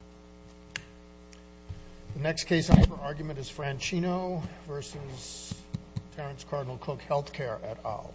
The next case I have for argument is Franchino v. Terrence Cardinal Cook Health Care at Owl.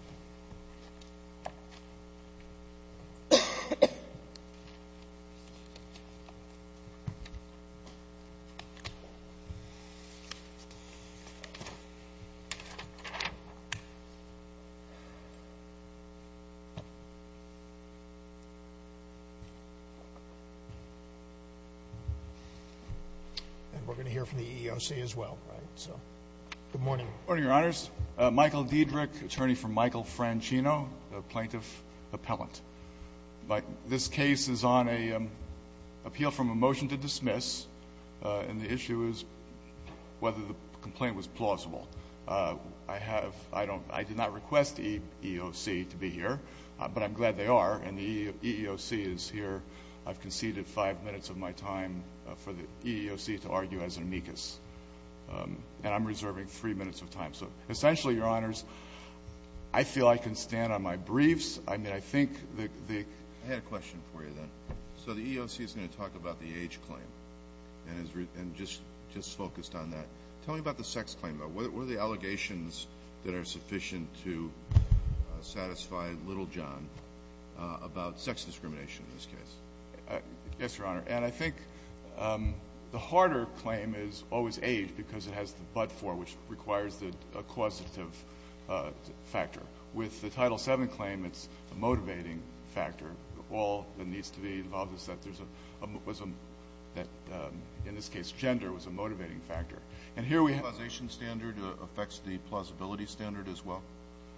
And we're going to hear from the EEOC as well. Good morning. Good morning, Your Honors. Michael Diedrich, attorney for Michael Franchino, plaintiff appellant. This case is on an appeal from a motion to dismiss, and the issue is whether the complaint was plausible. I did not request the EEOC to be here, but I'm glad they are, and the EEOC is here. I've conceded five minutes of my time for the EEOC to argue as an amicus, and I'm reserving three minutes of time. So essentially, Your Honors, I feel I can stand on my briefs. I mean, I think the – I had a question for you then. So the EEOC is going to talk about the age claim and just focused on that. Tell me about the sex claim. What are the allegations that are sufficient to satisfy little John about sex discrimination in this case? Yes, Your Honor. And I think the harder claim is always age because it has the but-for, which requires a causative factor. With the Title VII claim, it's a motivating factor. All that needs to be involved is that there's a – that, in this case, gender was a motivating factor. And here we have – The causation standard affects the plausibility standard as well?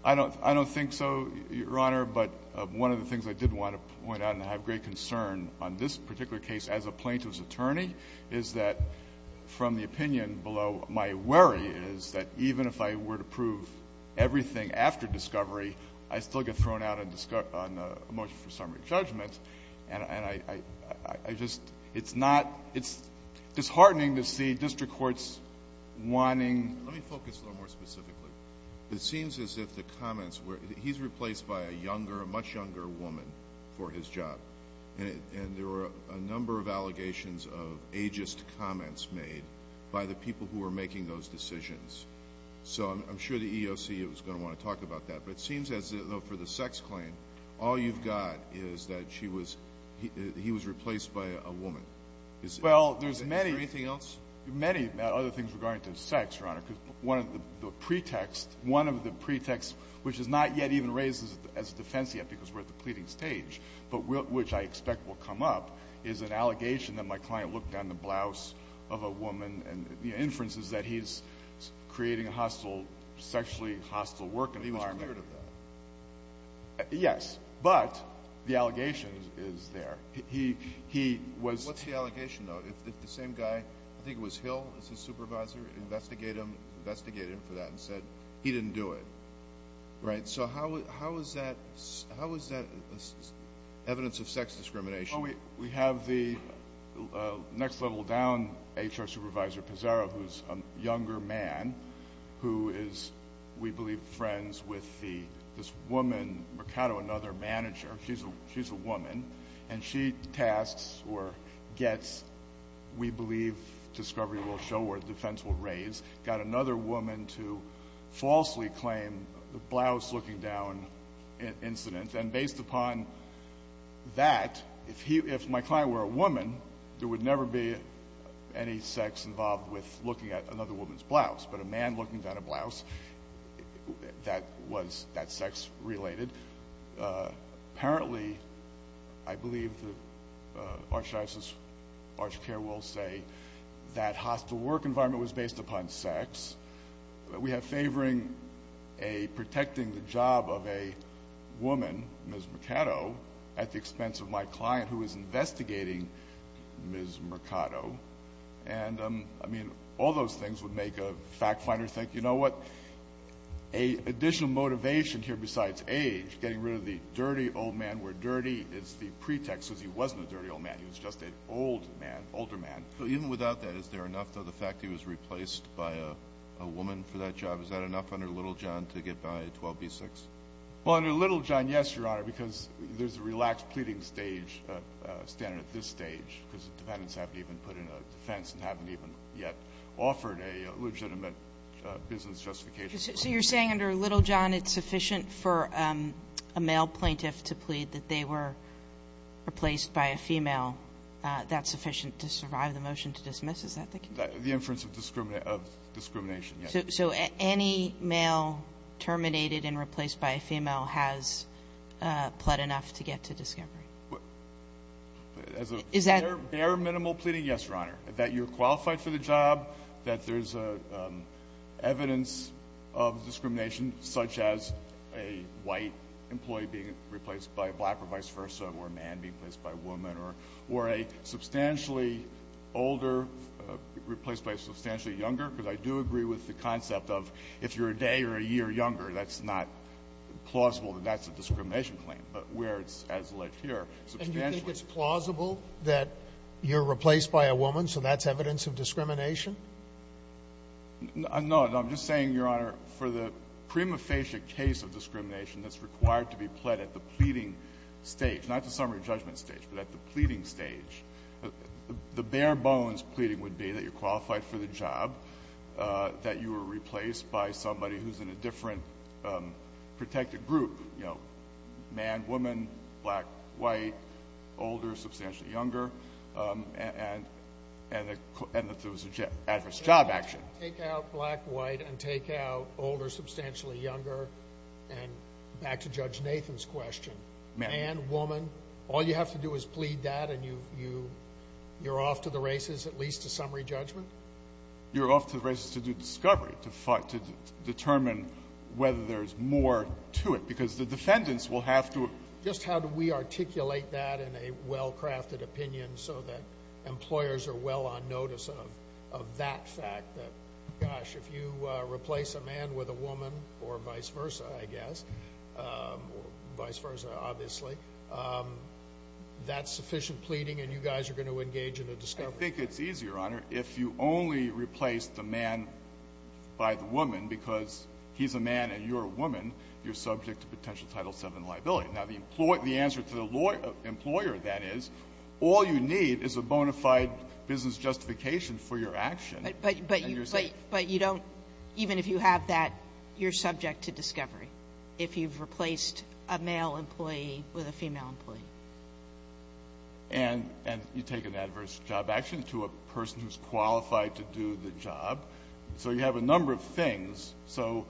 I don't think so, Your Honor. But one of the things I did want to point out and have great concern on this particular case as a plaintiff's attorney is that from the opinion below, my worry is that even if I were to prove everything after discovery, I'd still get thrown out on a motion for summary judgment. And I just – it's not – it's disheartening to see district courts wanting – Let me focus a little more specifically. It seems as if the comments were – he's replaced by a younger, a much younger woman for his job. And there were a number of allegations of ageist comments made by the people who were making those decisions. So I'm sure the EEOC is going to want to talk about that. But it seems as though for the sex claim, all you've got is that she was – he was replaced by a woman. Well, there's many – many other things regarding to sex, Your Honor, because one of the pretext – one of the pretexts, which is not yet even raised as a defense yet because we're at the pleading stage, but which I expect will come up, is an allegation that my client looked down the blouse of a woman. And the inference is that he's creating a hostile – sexually hostile work environment. But he was cleared of that. Yes. But the allegation is there. He was – What's the allegation, though? If the same guy – I think it was Hill as his supervisor – investigated him for that and said he didn't do it, right? So how is that evidence of sex discrimination? Well, we have the next level down, HR Supervisor Pizarro, who's a younger man who is, we believe, tasked with the – this woman, Mercado, another manager – she's a woman – and she tasks or gets – we believe discovery will show or defense will raise – got another woman to falsely claim the blouse-looking-down incident. And based upon that, if he – if my client were a woman, there would never be any sex involved with looking at another woman's blouse. But a man looking down a blouse, that was – that's sex-related. Apparently, I believe the Archdiocese – ArchCare will say that hostile work environment was based upon sex. We have favoring a – protecting the job of a woman, Ms. Mercado, at the expense of my client who is investigating Ms. Mercado. And, I mean, all those things would make a fact-finder think, you know what, additional motivation here besides age, getting rid of the dirty old man where dirty is the pretext because he wasn't a dirty old man. He was just an old man, older man. But even without that, is there enough, though, the fact he was replaced by a woman for that job? Is that enough under Little John to get by 12b-6? Well, under Little John, yes, Your Honor, because there's a relaxed pleading stage – standard at this stage because the defendants haven't even put in a defense and haven't even yet offered a legitimate business justification. So you're saying under Little John it's sufficient for a male plaintiff to plead that they were replaced by a female. That's sufficient to survive the motion to dismiss? Is that the case? The inference of discrimination, yes. So any male terminated and replaced by a female has pled enough to get to discovery? Is that – Bare minimal pleading, yes, Your Honor. That you're qualified for the job, that there's evidence of discrimination such as a white employee being replaced by a black or vice versa, or a man being replaced by a woman, or a substantially older replaced by a substantially younger, because I do agree with the concept of if you're a day or a year younger, that's not plausible that that's a discrimination claim, but where it's as lit here. And you think it's plausible that you're replaced by a woman, so that's evidence of discrimination? No. I'm just saying, Your Honor, for the prima facie case of discrimination that's required to be pled at the pleading stage, not the summary judgment stage, but at the pleading stage, the bare bones pleading would be that you're qualified for the job, that you were replaced by somebody who's in a different protected group, you know, man, woman, black, white, older, substantially younger, and that there was adverse job action. Take out black, white, and take out older, substantially younger, and back to Judge Nathan's question. Man. Woman. All you have to do is plead that and you're off to the races, at least to summary judgment? You're off to the races to do discovery, to determine whether there's more to it, because the defendants will have to. Just how do we articulate that in a well-crafted opinion so that employers are well on notice of that fact that, gosh, if you replace a man with a woman, or vice versa, I guess, or vice versa, obviously, that's sufficient pleading and you guys are going to engage in a discovery? I think it's easier, Your Honor, if you only replace the man by the woman because he's a man and you're a woman, you're subject to potential Title VII liability. Now, the answer to the employer, that is, all you need is a bona fide business justification for your action, and you're safe. But you don't, even if you have that, you're subject to discovery. If you've replaced a male employee with a female employee. And you take an adverse job action to a person who's qualified to do the job. So you have a number of things. So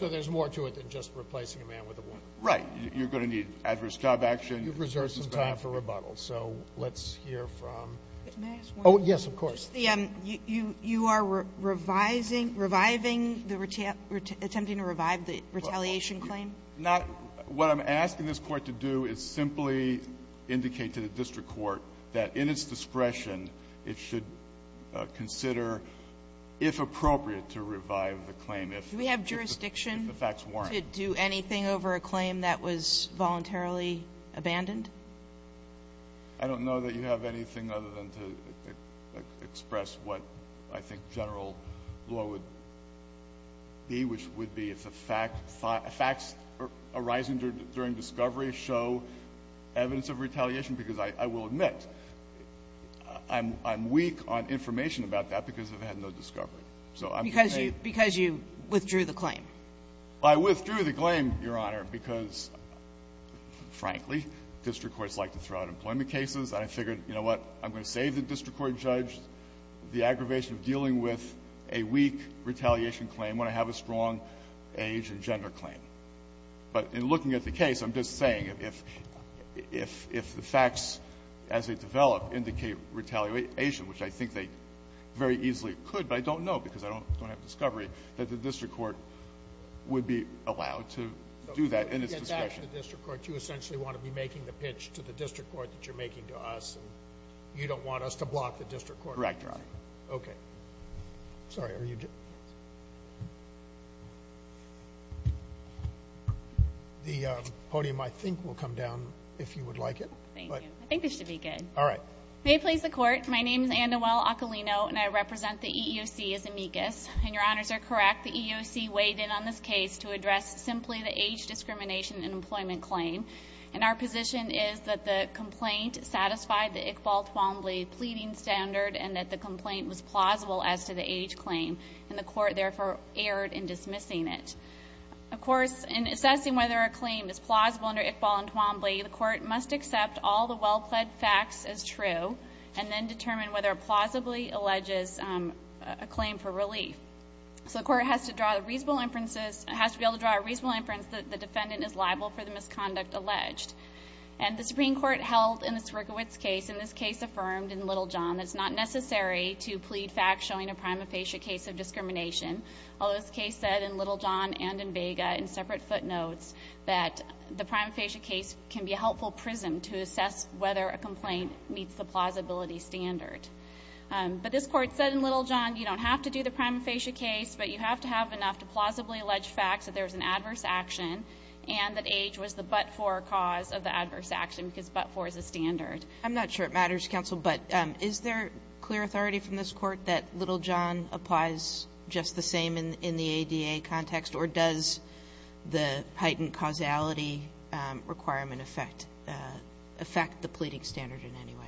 there's more to it than just replacing a man with a woman. Right. You're going to need adverse job action. You've reserved some time for rebuttal. So let's hear from. May I ask one more? Yes, of course. You are revising, reviving, attempting to revive the retaliation claim? Not what I'm asking this Court to do is simply indicate to the district court that in its discretion, it should consider, if appropriate, to revive the claim if the facts warrant. Do we have jurisdiction to do anything over a claim that was voluntarily abandoned? I don't know that you have anything other than to express what I think general law would be, which would be if the fact or facts arising during discovery show evidence of retaliation, because I will admit I'm weak on information about that because I've had no discovery. Because you withdrew the claim. I withdrew the claim, Your Honor, because, frankly, district courts like to throw out employment cases. And I figured, you know what? I'm going to save the district court judge the aggravation of dealing with a weak retaliation claim when I have a strong age and gender claim. But in looking at the case, I'm just saying if the facts as they develop indicate retaliation, which I think they very easily could, but I don't know because I don't have discovery, that the district court would be allowed to do that in its discretion. So if you get back to the district court, you essentially want to be making the pitch to the district court that you're making to us, and you don't want us to block the district court? Correct, Your Honor. Okay. Sorry. The podium, I think, will come down if you would like it. Thank you. I think this should be good. All right. May it please the Court. My name is Anne-Noel Occalino, and I represent the EEOC as amicus. And Your Honors are correct. The EEOC weighed in on this case to address simply the age discrimination in employment claim. And our position is that the complaint satisfied the Iqbal-Twombly pleading standard, and that the complaint was plausible as to the age claim, and the Court therefore erred in dismissing it. Of course, in assessing whether a claim is plausible under Iqbal and Twombly, the Court must accept all the well-plead facts as true, and then determine whether it plausibly alleges a claim for relief. So the Court has to be able to draw a reasonable inference that the defendant is liable for the misconduct alleged. And the Supreme Court held in the Siergiewicz case, in this case affirmed in Little John, that it's not necessary to plead facts showing a prima facie case of discrimination, although this case said in Little John and in Vega in separate footnotes that the prima facie case can be a helpful prism to assess whether a complaint meets the plausibility standard. But this Court said in Little John you don't have to do the prima facie case, but you have to have enough to plausibly allege facts that there's an adverse action and that age was the but-for cause of the adverse action, because but-for is a standard. I'm not sure it matters, Counsel, but is there clear authority from this Court that Little John applies just the same in the ADA context, or does the heightened causality requirement affect the pleading standard in any way?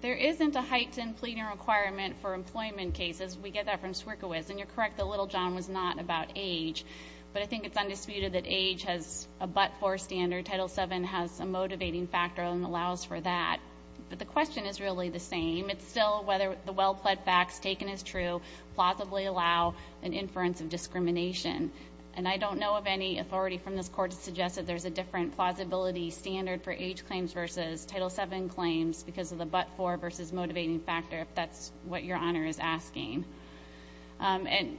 There isn't a heightened pleading requirement for employment cases. We get that from Siergiewicz. And you're correct that Little John was not about age. But I think it's undisputed that age has a but-for standard. Title VII has a motivating factor and allows for that. But the question is really the same. It's still whether the well-pled facts taken as true plausibly allow an inference of discrimination. And I don't know of any authority from this Court to suggest that there's a different plausibility standard for age claims versus Title VII claims because of the but-for versus motivating factor, if that's what Your Honor is asking. And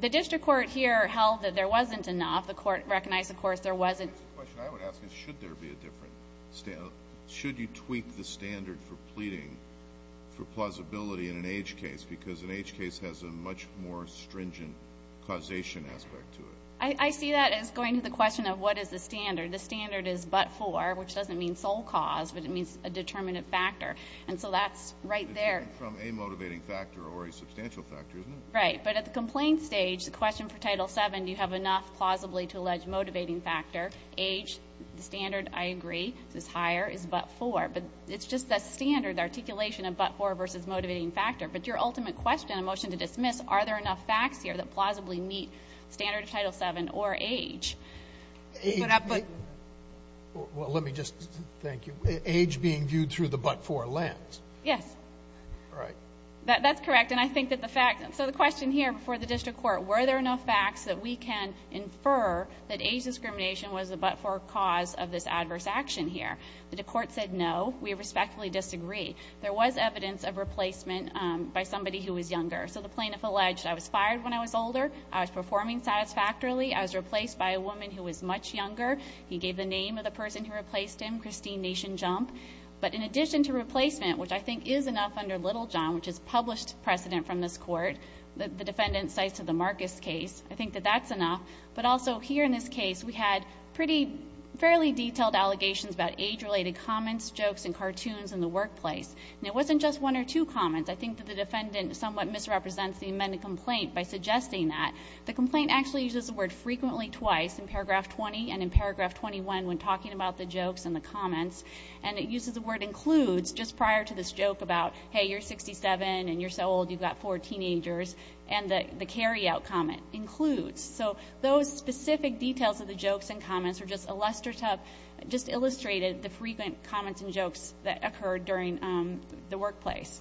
the district court here held that there wasn't enough. The Court recognized, of course, there wasn't. The question I would ask is should there be a different standard? Should you tweak the standard for pleading for plausibility in an age case because an age case has a much more stringent causation aspect to it? I see that as going to the question of what is the standard. The standard is but-for, which doesn't mean sole cause, but it means a determinate factor. And so that's right there. It's coming from a motivating factor or a substantial factor, isn't it? Right. But at the complaint stage, the question for Title VII, do you have enough plausibly to allege motivating factor? Age, the standard, I agree. This is higher. It's but-for. But it's just the standard articulation of but-for versus motivating factor. But your ultimate question, a motion to dismiss, are there enough facts here that plausibly meet standard of Title VII or age? Well, let me just, thank you. Age being viewed through the but-for lens. Yes. All right. That's correct. And I think that the fact, so the question here before the district court, were there enough facts that we can infer that age discrimination was the but-for cause of this adverse action here? The court said no. We respectfully disagree. There was evidence of replacement by somebody who was younger. So the plaintiff alleged, I was fired when I was older. I was performing satisfactorily. I was replaced by a woman who was much younger. He gave the name of the person who replaced him, Christine Nation Jump. But in addition to replacement, which I think is enough under Littlejohn, which is published precedent from this court, the defendant cites the Marcus case, I think that that's enough. But also here in this case, we had pretty fairly detailed allegations about age-related comments, jokes, and cartoons in the workplace. And it wasn't just one or two comments. I think that the defendant somewhat misrepresents the amended complaint by suggesting that. The complaint actually uses the word frequently twice, in paragraph 20 and in paragraph 21, when talking about the jokes and the comments. And it uses the word includes just prior to this joke about, hey, you're 67, and you're so old you've got four teenagers. And the carry-out comment, includes. So those specific details of the jokes and comments are just illustrated, the frequent comments and jokes that occurred during the workplace.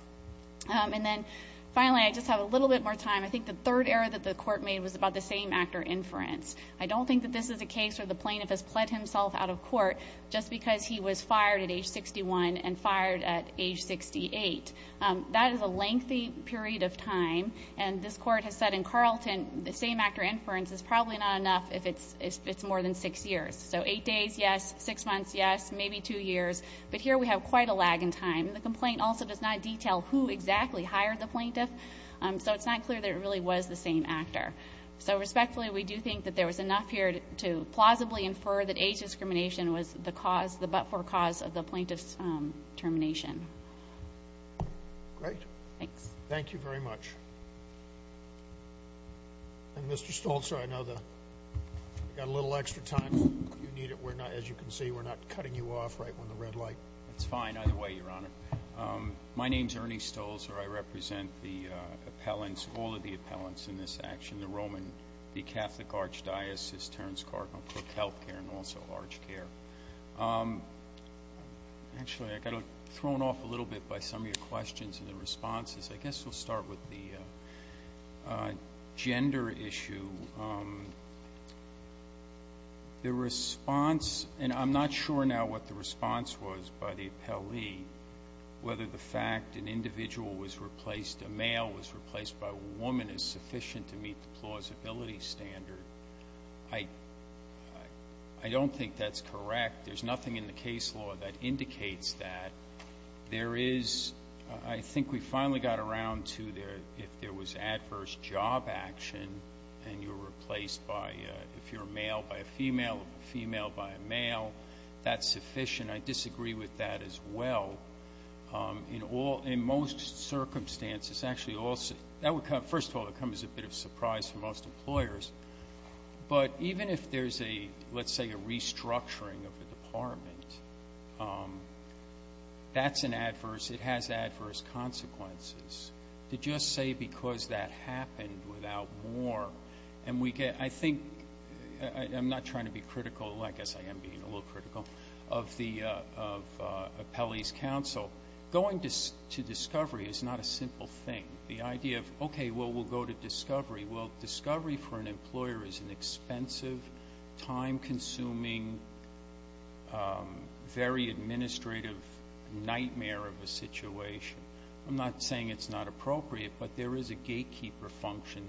And then finally, I just have a little bit more time. I think the third error that the court made was about the same actor inference. I don't think that this is a case where the plaintiff has pled himself out of court just because he was fired at age 61 and fired at age 68. That is a lengthy period of time. And this court has said in Carlton, the same actor inference is probably not enough if it's more than six years. So eight days, yes. Six months, yes. Maybe two years. But here we have quite a lag in time. The complaint also does not detail who exactly hired the plaintiff, so it's not clear that it really was the same actor. So respectfully, we do think that there was enough here to plausibly infer that age discrimination was the cause, the but-for cause of the plaintiff's termination. Great. Thanks. Thank you very much. And, Mr. Stolzer, I know we've got a little extra time if you need it. As you can see, we're not cutting you off right on the red light. That's fine. Either way, Your Honor. My name is Ernie Stolzer. I represent the appellants, all of the appellants in this action, the Roman, the Catholic Archdiocese, Terence Clark, and, of course, health care, and also large care. Actually, I got thrown off a little bit by some of your questions and the gender issue. The response, and I'm not sure now what the response was by the appellee, whether the fact an individual was replaced, a male was replaced by a woman is sufficient to meet the plausibility standard. I don't think that's correct. There's nothing in the case law that indicates that. There is, I think we finally got around to if there was adverse job action and you're replaced by, if you're a male by a female, female by a male, that's sufficient. I disagree with that as well. In most circumstances, actually, first of all, it comes as a bit of a surprise for most employers, but even if there's a, let's say, a restructuring of the department, that's an adverse, it has adverse consequences. To just say because that happened without war, and we get, I think, I'm not trying to be critical, I guess I am being a little critical, of the appellee's counsel. Going to discovery is not a simple thing. Well, discovery for an employer is an expensive, time-consuming, very administrative nightmare of a situation. I'm not saying it's not appropriate, but there is a gatekeeper function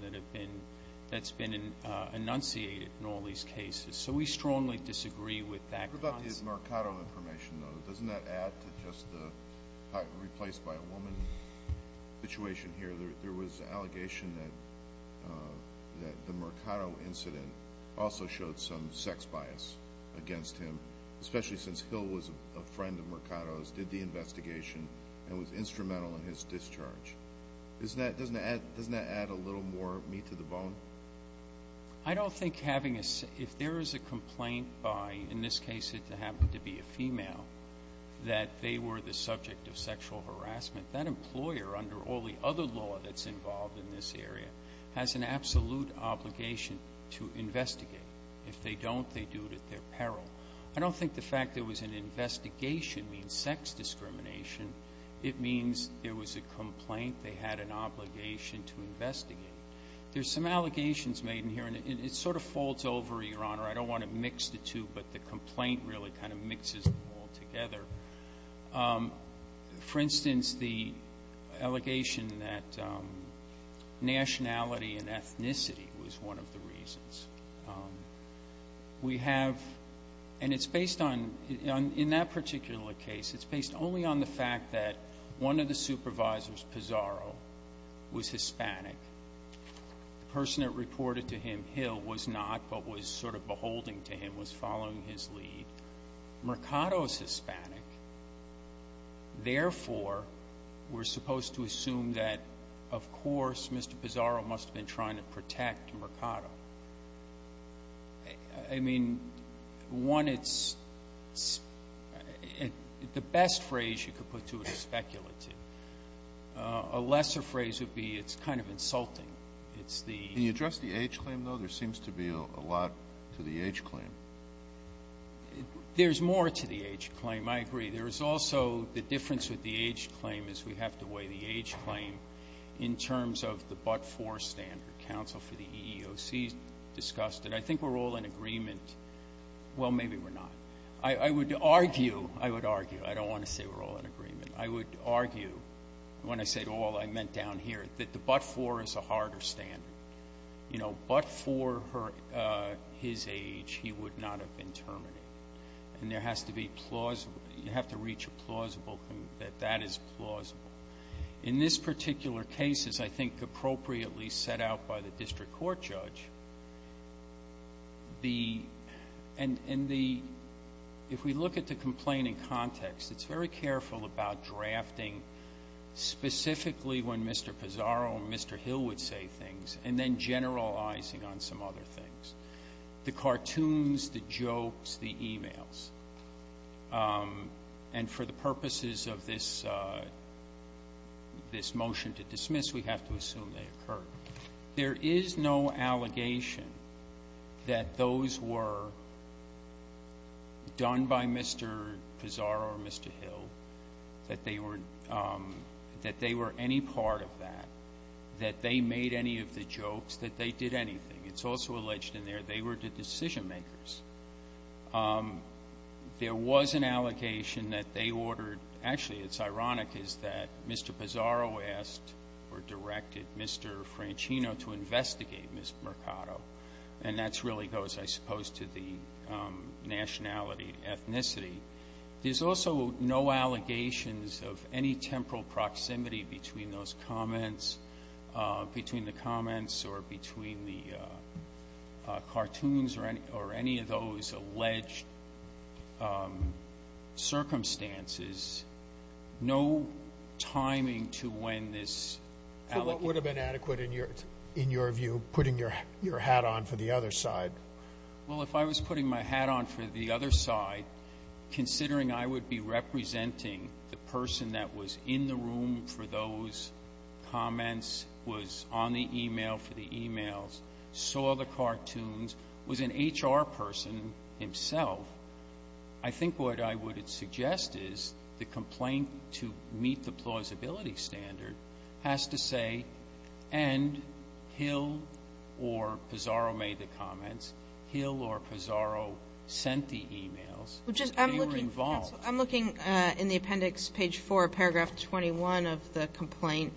that's been enunciated in all these cases. So we strongly disagree with that. What about the Mercado information, though? Doesn't that add to just the replaced by a woman situation here? There was an allegation that the Mercado incident also showed some sex bias against him, especially since Hill was a friend of Mercado's, did the investigation, and was instrumental in his discharge. Doesn't that add a little more meat to the bone? I don't think having a, if there is a complaint by, in this case, it happened to be a female, that they were the subject of sexual harassment, that employer, under all the other law that's involved in this area, has an absolute obligation to investigate. If they don't, they do it at their peril. I don't think the fact there was an investigation means sex discrimination. It means there was a complaint. They had an obligation to investigate. There's some allegations made in here, and it sort of folds over, Your Honor. I don't want to mix the two, but the complaint really kind of mixes them all together. For instance, the allegation that nationality and ethnicity was one of the reasons. We have, and it's based on, in that particular case, it's based only on the fact that one of the supervisors, Pizarro, was Hispanic. The person that reported to him, Hill, was not, but was sort of beholding to him, was following his lead. Mercado is Hispanic. Therefore, we're supposed to assume that, of course, Mr. Pizarro must have been trying to protect Mercado. I mean, one, it's the best phrase you could put to it is speculative. A lesser phrase would be it's kind of insulting. Can you address the age claim, though? There seems to be a lot to the age claim. There's more to the age claim. I agree. There's also the difference with the age claim is we have to weigh the age claim in terms of the but-for standard. Counsel for the EEOC discussed it. I think we're all in agreement. Well, maybe we're not. I would argue, I would argue, I don't want to say we're all in agreement. I would argue, when I say all, I meant down here, that the but-for is a harder standard. But for his age, he would not have been terminated. And there has to be plausible, you have to reach a plausible, that that is plausible. In this particular case, as I think appropriately set out by the district court judge, if we look at the complaint in context, it's very careful about drafting specifically when Mr. Pizarro or Mr. Hill would say things, and then generalizing on some other things, the cartoons, the jokes, the e-mails. And for the purposes of this motion to dismiss, we have to assume they occurred. There is no allegation that those were done by Mr. Pizarro or Mr. Hill, that they were any part of that, that they made any of the jokes, that they did anything. It's also alleged in there they were the decision-makers. There was an allegation that they ordered, actually it's ironic, is that Mr. Pizarro asked or directed Mr. Francino to investigate Ms. Mercado. And that really goes, I suppose, to the nationality, ethnicity. There's also no allegations of any temporal proximity between those comments, between the comments or between the cartoons or any of those alleged circumstances. No timing to when this allegation- So what would have been adequate in your view, putting your hat on for the other side? Well, if I was putting my hat on for the other side, considering I would be representing the person that was in the room for those comments, was on the e-mail for the e-mails, saw the cartoons, was an HR person himself, I think what I would suggest is the complaint to meet the plausibility standard has to say, and Hill or Pizarro made the comments. Hill or Pizarro sent the e-mails. They were involved. I'm looking in the appendix, page 4, paragraph 21 of the complaint.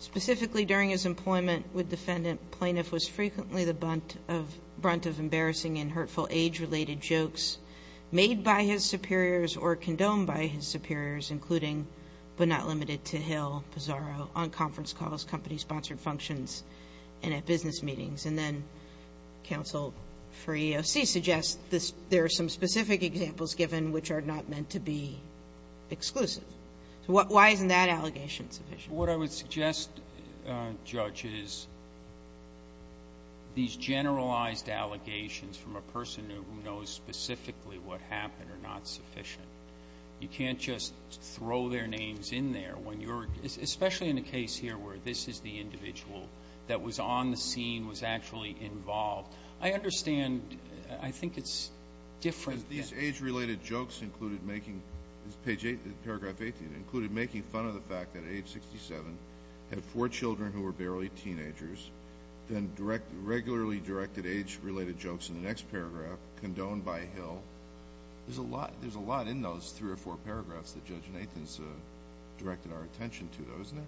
Specifically, during his employment with defendant, plaintiff was frequently the brunt of embarrassing and hurtful age-related jokes made by his superiors or condoned by his superiors, including but not limited to Hill, Pizarro, on conference calls, company-sponsored functions, and at business meetings. And then counsel for EEOC suggests there are some specific examples given which are not meant to be exclusive. So why isn't that allegation sufficient? What I would suggest, Judge, is these generalized allegations from a person who knows specifically what happened are not sufficient. You can't just throw their names in there when you're, especially in the case here where this is the individual that was on the scene, was actually involved. I understand, I think it's different. These age-related jokes included making, page 8, paragraph 18, included making fun of the fact that at age 67 had four children who were barely teenagers, then regularly directed age-related jokes in the next paragraph, condoned by Hill. There's a lot in those three or four paragraphs that Judge Nathan's directed our attention to, isn't there?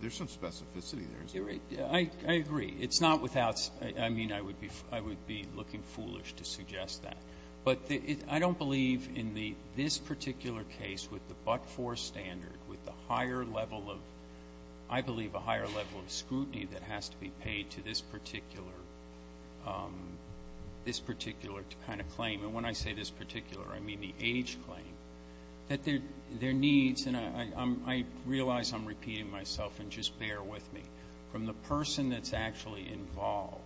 There's some specificity there, isn't there? I agree. It's not without, I mean, I would be looking foolish to suggest that. But I don't believe in this particular case with the but-for standard, with the higher level of, I believe, a higher level of scrutiny that has to be paid to this particular kind of claim. And when I say this particular, I mean the age claim. That there are needs, and I realize I'm repeating myself, and just bear with me. From the person that's actually involved,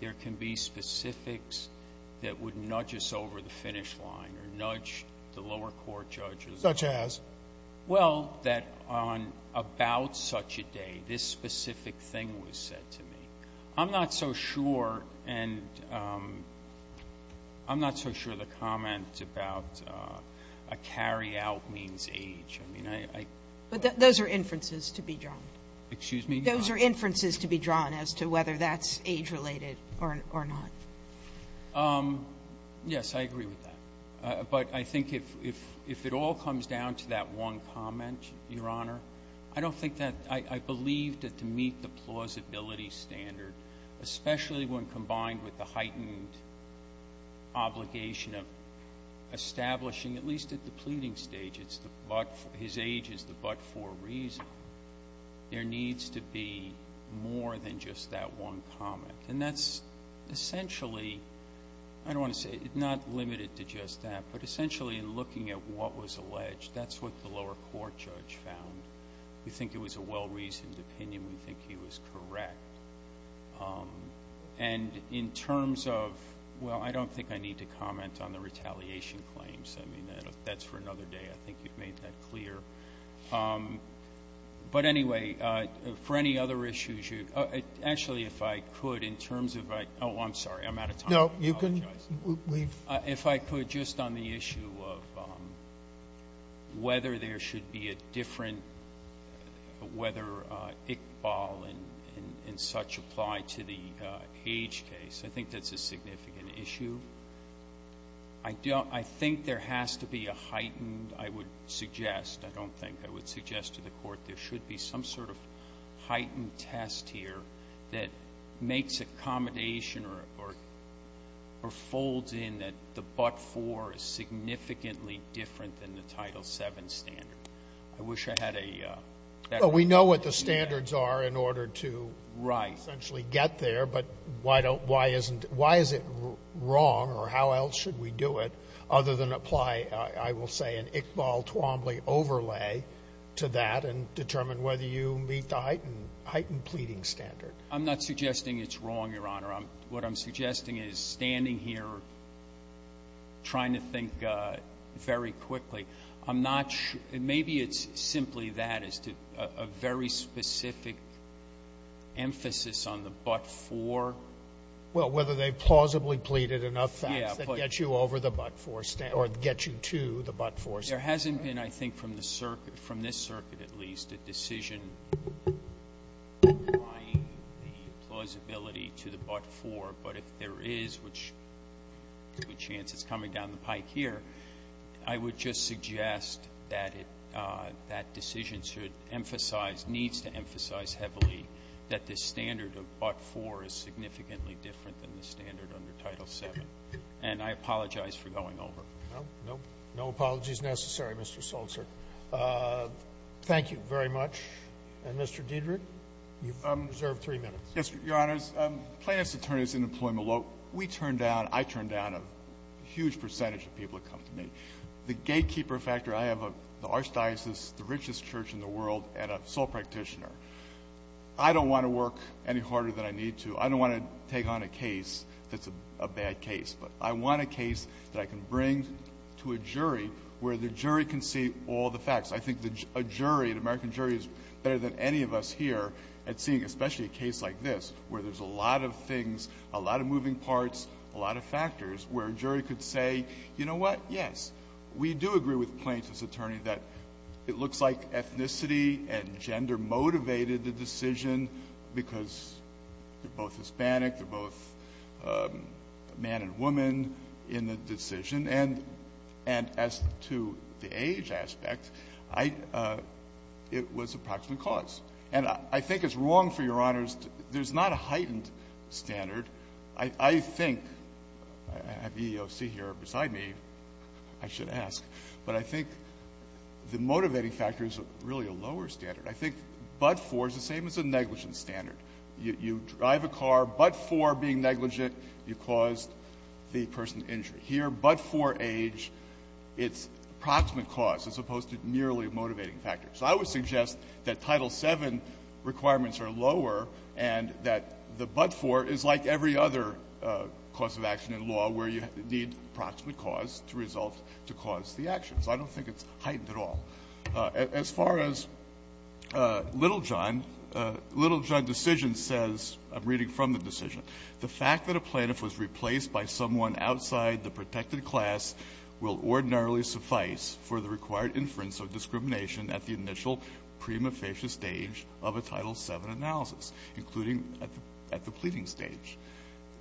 there can be specifics that would nudge us over the finish line or nudge the lower court judges. Such as? Well, that on about such a day, this specific thing was said to me. I'm not so sure, and I'm not so sure the comment about a carry-out means age. I mean, I. But those are inferences to be drawn. Excuse me? Those are inferences to be drawn as to whether that's age-related or not. Yes, I agree with that. But I think if it all comes down to that one comment, Your Honor, I don't think that I believe that to meet the plausibility standard, especially when combined with the heightened obligation of establishing, at least at the pleading stage, his age is the but-for reason, there needs to be more than just that one comment. And that's essentially, I don't want to say, not limited to just that, but essentially in looking at what was alleged, that's what the lower court judge found. We think it was a well-reasoned opinion. We think he was correct. And in terms of, well, I don't think I need to comment on the retaliation claims. I mean, that's for another day. I think you've made that clear. But, anyway, for any other issues, you actually, if I could, in terms of, oh, I'm sorry. I'm out of time. I apologize. No, you can leave. If I could, just on the issue of whether there should be a different, whether Iqbal and such apply to the age case, I think that's a significant issue. I think there has to be a heightened, I would suggest, I don't think I would suggest to the Court there should be some sort of heightened test here that makes accommodation or folds in that the but-for is significantly different than the Title VII standard. I wish I had a ---- Well, we know what the standards are in order to essentially get there, but why is it wrong or how else should we do it other than apply, I will say, an Iqbal-Twombly overlay to that and determine whether you meet the heightened pleading standard? I'm not suggesting it's wrong, Your Honor. What I'm suggesting is standing here trying to think very quickly. I'm not sure. Maybe it's simply that as to a very specific emphasis on the but-for. Well, whether they plausibly pleaded enough facts that gets you over the but-for or gets you to the but-for. There hasn't been, I think, from this circuit at least, a decision applying the plausibility to the but-for. But if there is, which is a good chance it's coming down the pike here, I would just suggest that that decision should emphasize, needs to emphasize heavily that the standard of but-for is significantly different than the standard under Title VII. And I apologize for going over. No. No apologies necessary, Mr. Soltzer. Thank you very much. And, Mr. Diedrich, you've reserved three minutes. Yes, Your Honors. Plaintiff's attorneys in employment law, we turn down, I turn down a huge percentage of people that come to me. The gatekeeper factor, I have the archdiocese, the richest church in the world, and a sole practitioner. I don't want to work any harder than I need to. I don't want to take on a case that's a bad case. But I want a case that I can bring to a jury where the jury can see all the facts. I think a jury, an American jury, is better than any of us here at seeing, especially a case like this, where there's a lot of things, a lot of moving parts, a lot of factors, where a jury could say, you know what, yes, we do agree with the plaintiff's attorney that it looks like ethnicity and gender motivated the decision because they're both Hispanic, they're both man and woman in the decision. And as to the age aspect, I — it was approximate cause. And I think it's wrong for Your Honors — there's not a heightened standard. I think — I have EEOC here beside me. I should ask. But I think the motivating factor is really a lower standard. I think but-for is the same as a negligent standard. You drive a car, but-for being negligent, you caused the person injury. Here, but-for age, it's approximate cause as opposed to merely a motivating factor. So I would suggest that Title VII requirements are lower and that the but-for is like every other cause of action in law where you need approximate cause to result to cause the actions. I don't think it's heightened at all. As far as Littlejohn, Littlejohn's decision says, I'm reading from the decision, the fact that a plaintiff was replaced by someone outside the protected class will ordinarily suffice for the required inference of discrimination at the initial prima facie stage of a Title VII analysis, including at the pleading stage.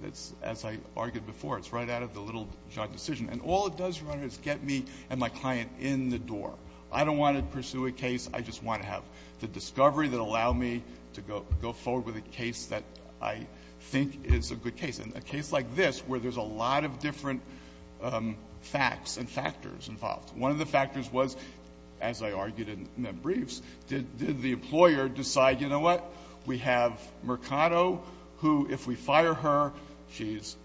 That's, as I argued before, it's right out of the Littlejohn decision. And all it does, Your Honor, is get me and my client in the door. I don't want to pursue a case. I just want to have the discovery that will allow me to go forward with a case that I think is a good case, and a case like this where there's a lot of different facts and factors involved. One of the factors was, as I argued in the briefs, did the employer decide, you know what, we have Mercado, who, if we fire her, she's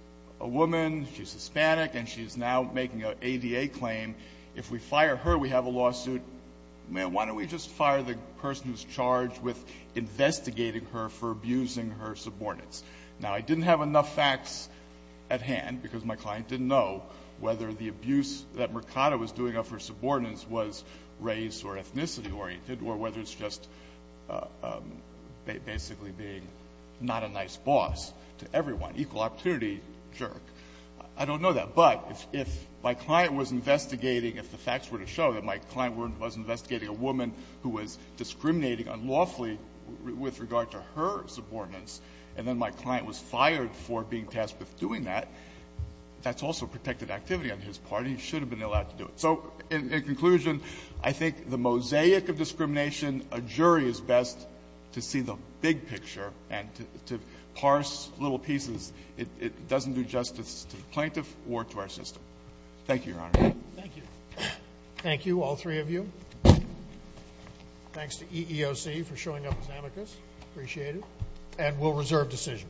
a woman, she's Hispanic, and she's now making an ADA claim. If we fire her, we have a lawsuit. Why don't we just fire the person who's charged with investigating her for abusing her subordinates? Now, I didn't have enough facts at hand, because my client didn't know whether the abuse that Mercado was doing of her subordinates was race or ethnicity-oriented or whether it's just basically being not a nice boss to everyone, equal opportunity jerk. I don't know that. But if my client was investigating, if the facts were to show that my client was investigating a woman who was discriminating unlawfully with regard to her subordinates, and then my client was fired for being tasked with doing that, that's also protected activity on his part, and he should have been allowed to do it. So in conclusion, I think the mosaic of discrimination, a jury is best to see the big pieces. It doesn't do justice to the plaintiff or to our system. Thank you, Your Honor. Thank you. Thank you, all three of you. Thanks to EEOC for showing up as amicus. Appreciate it. And we'll reserve decision.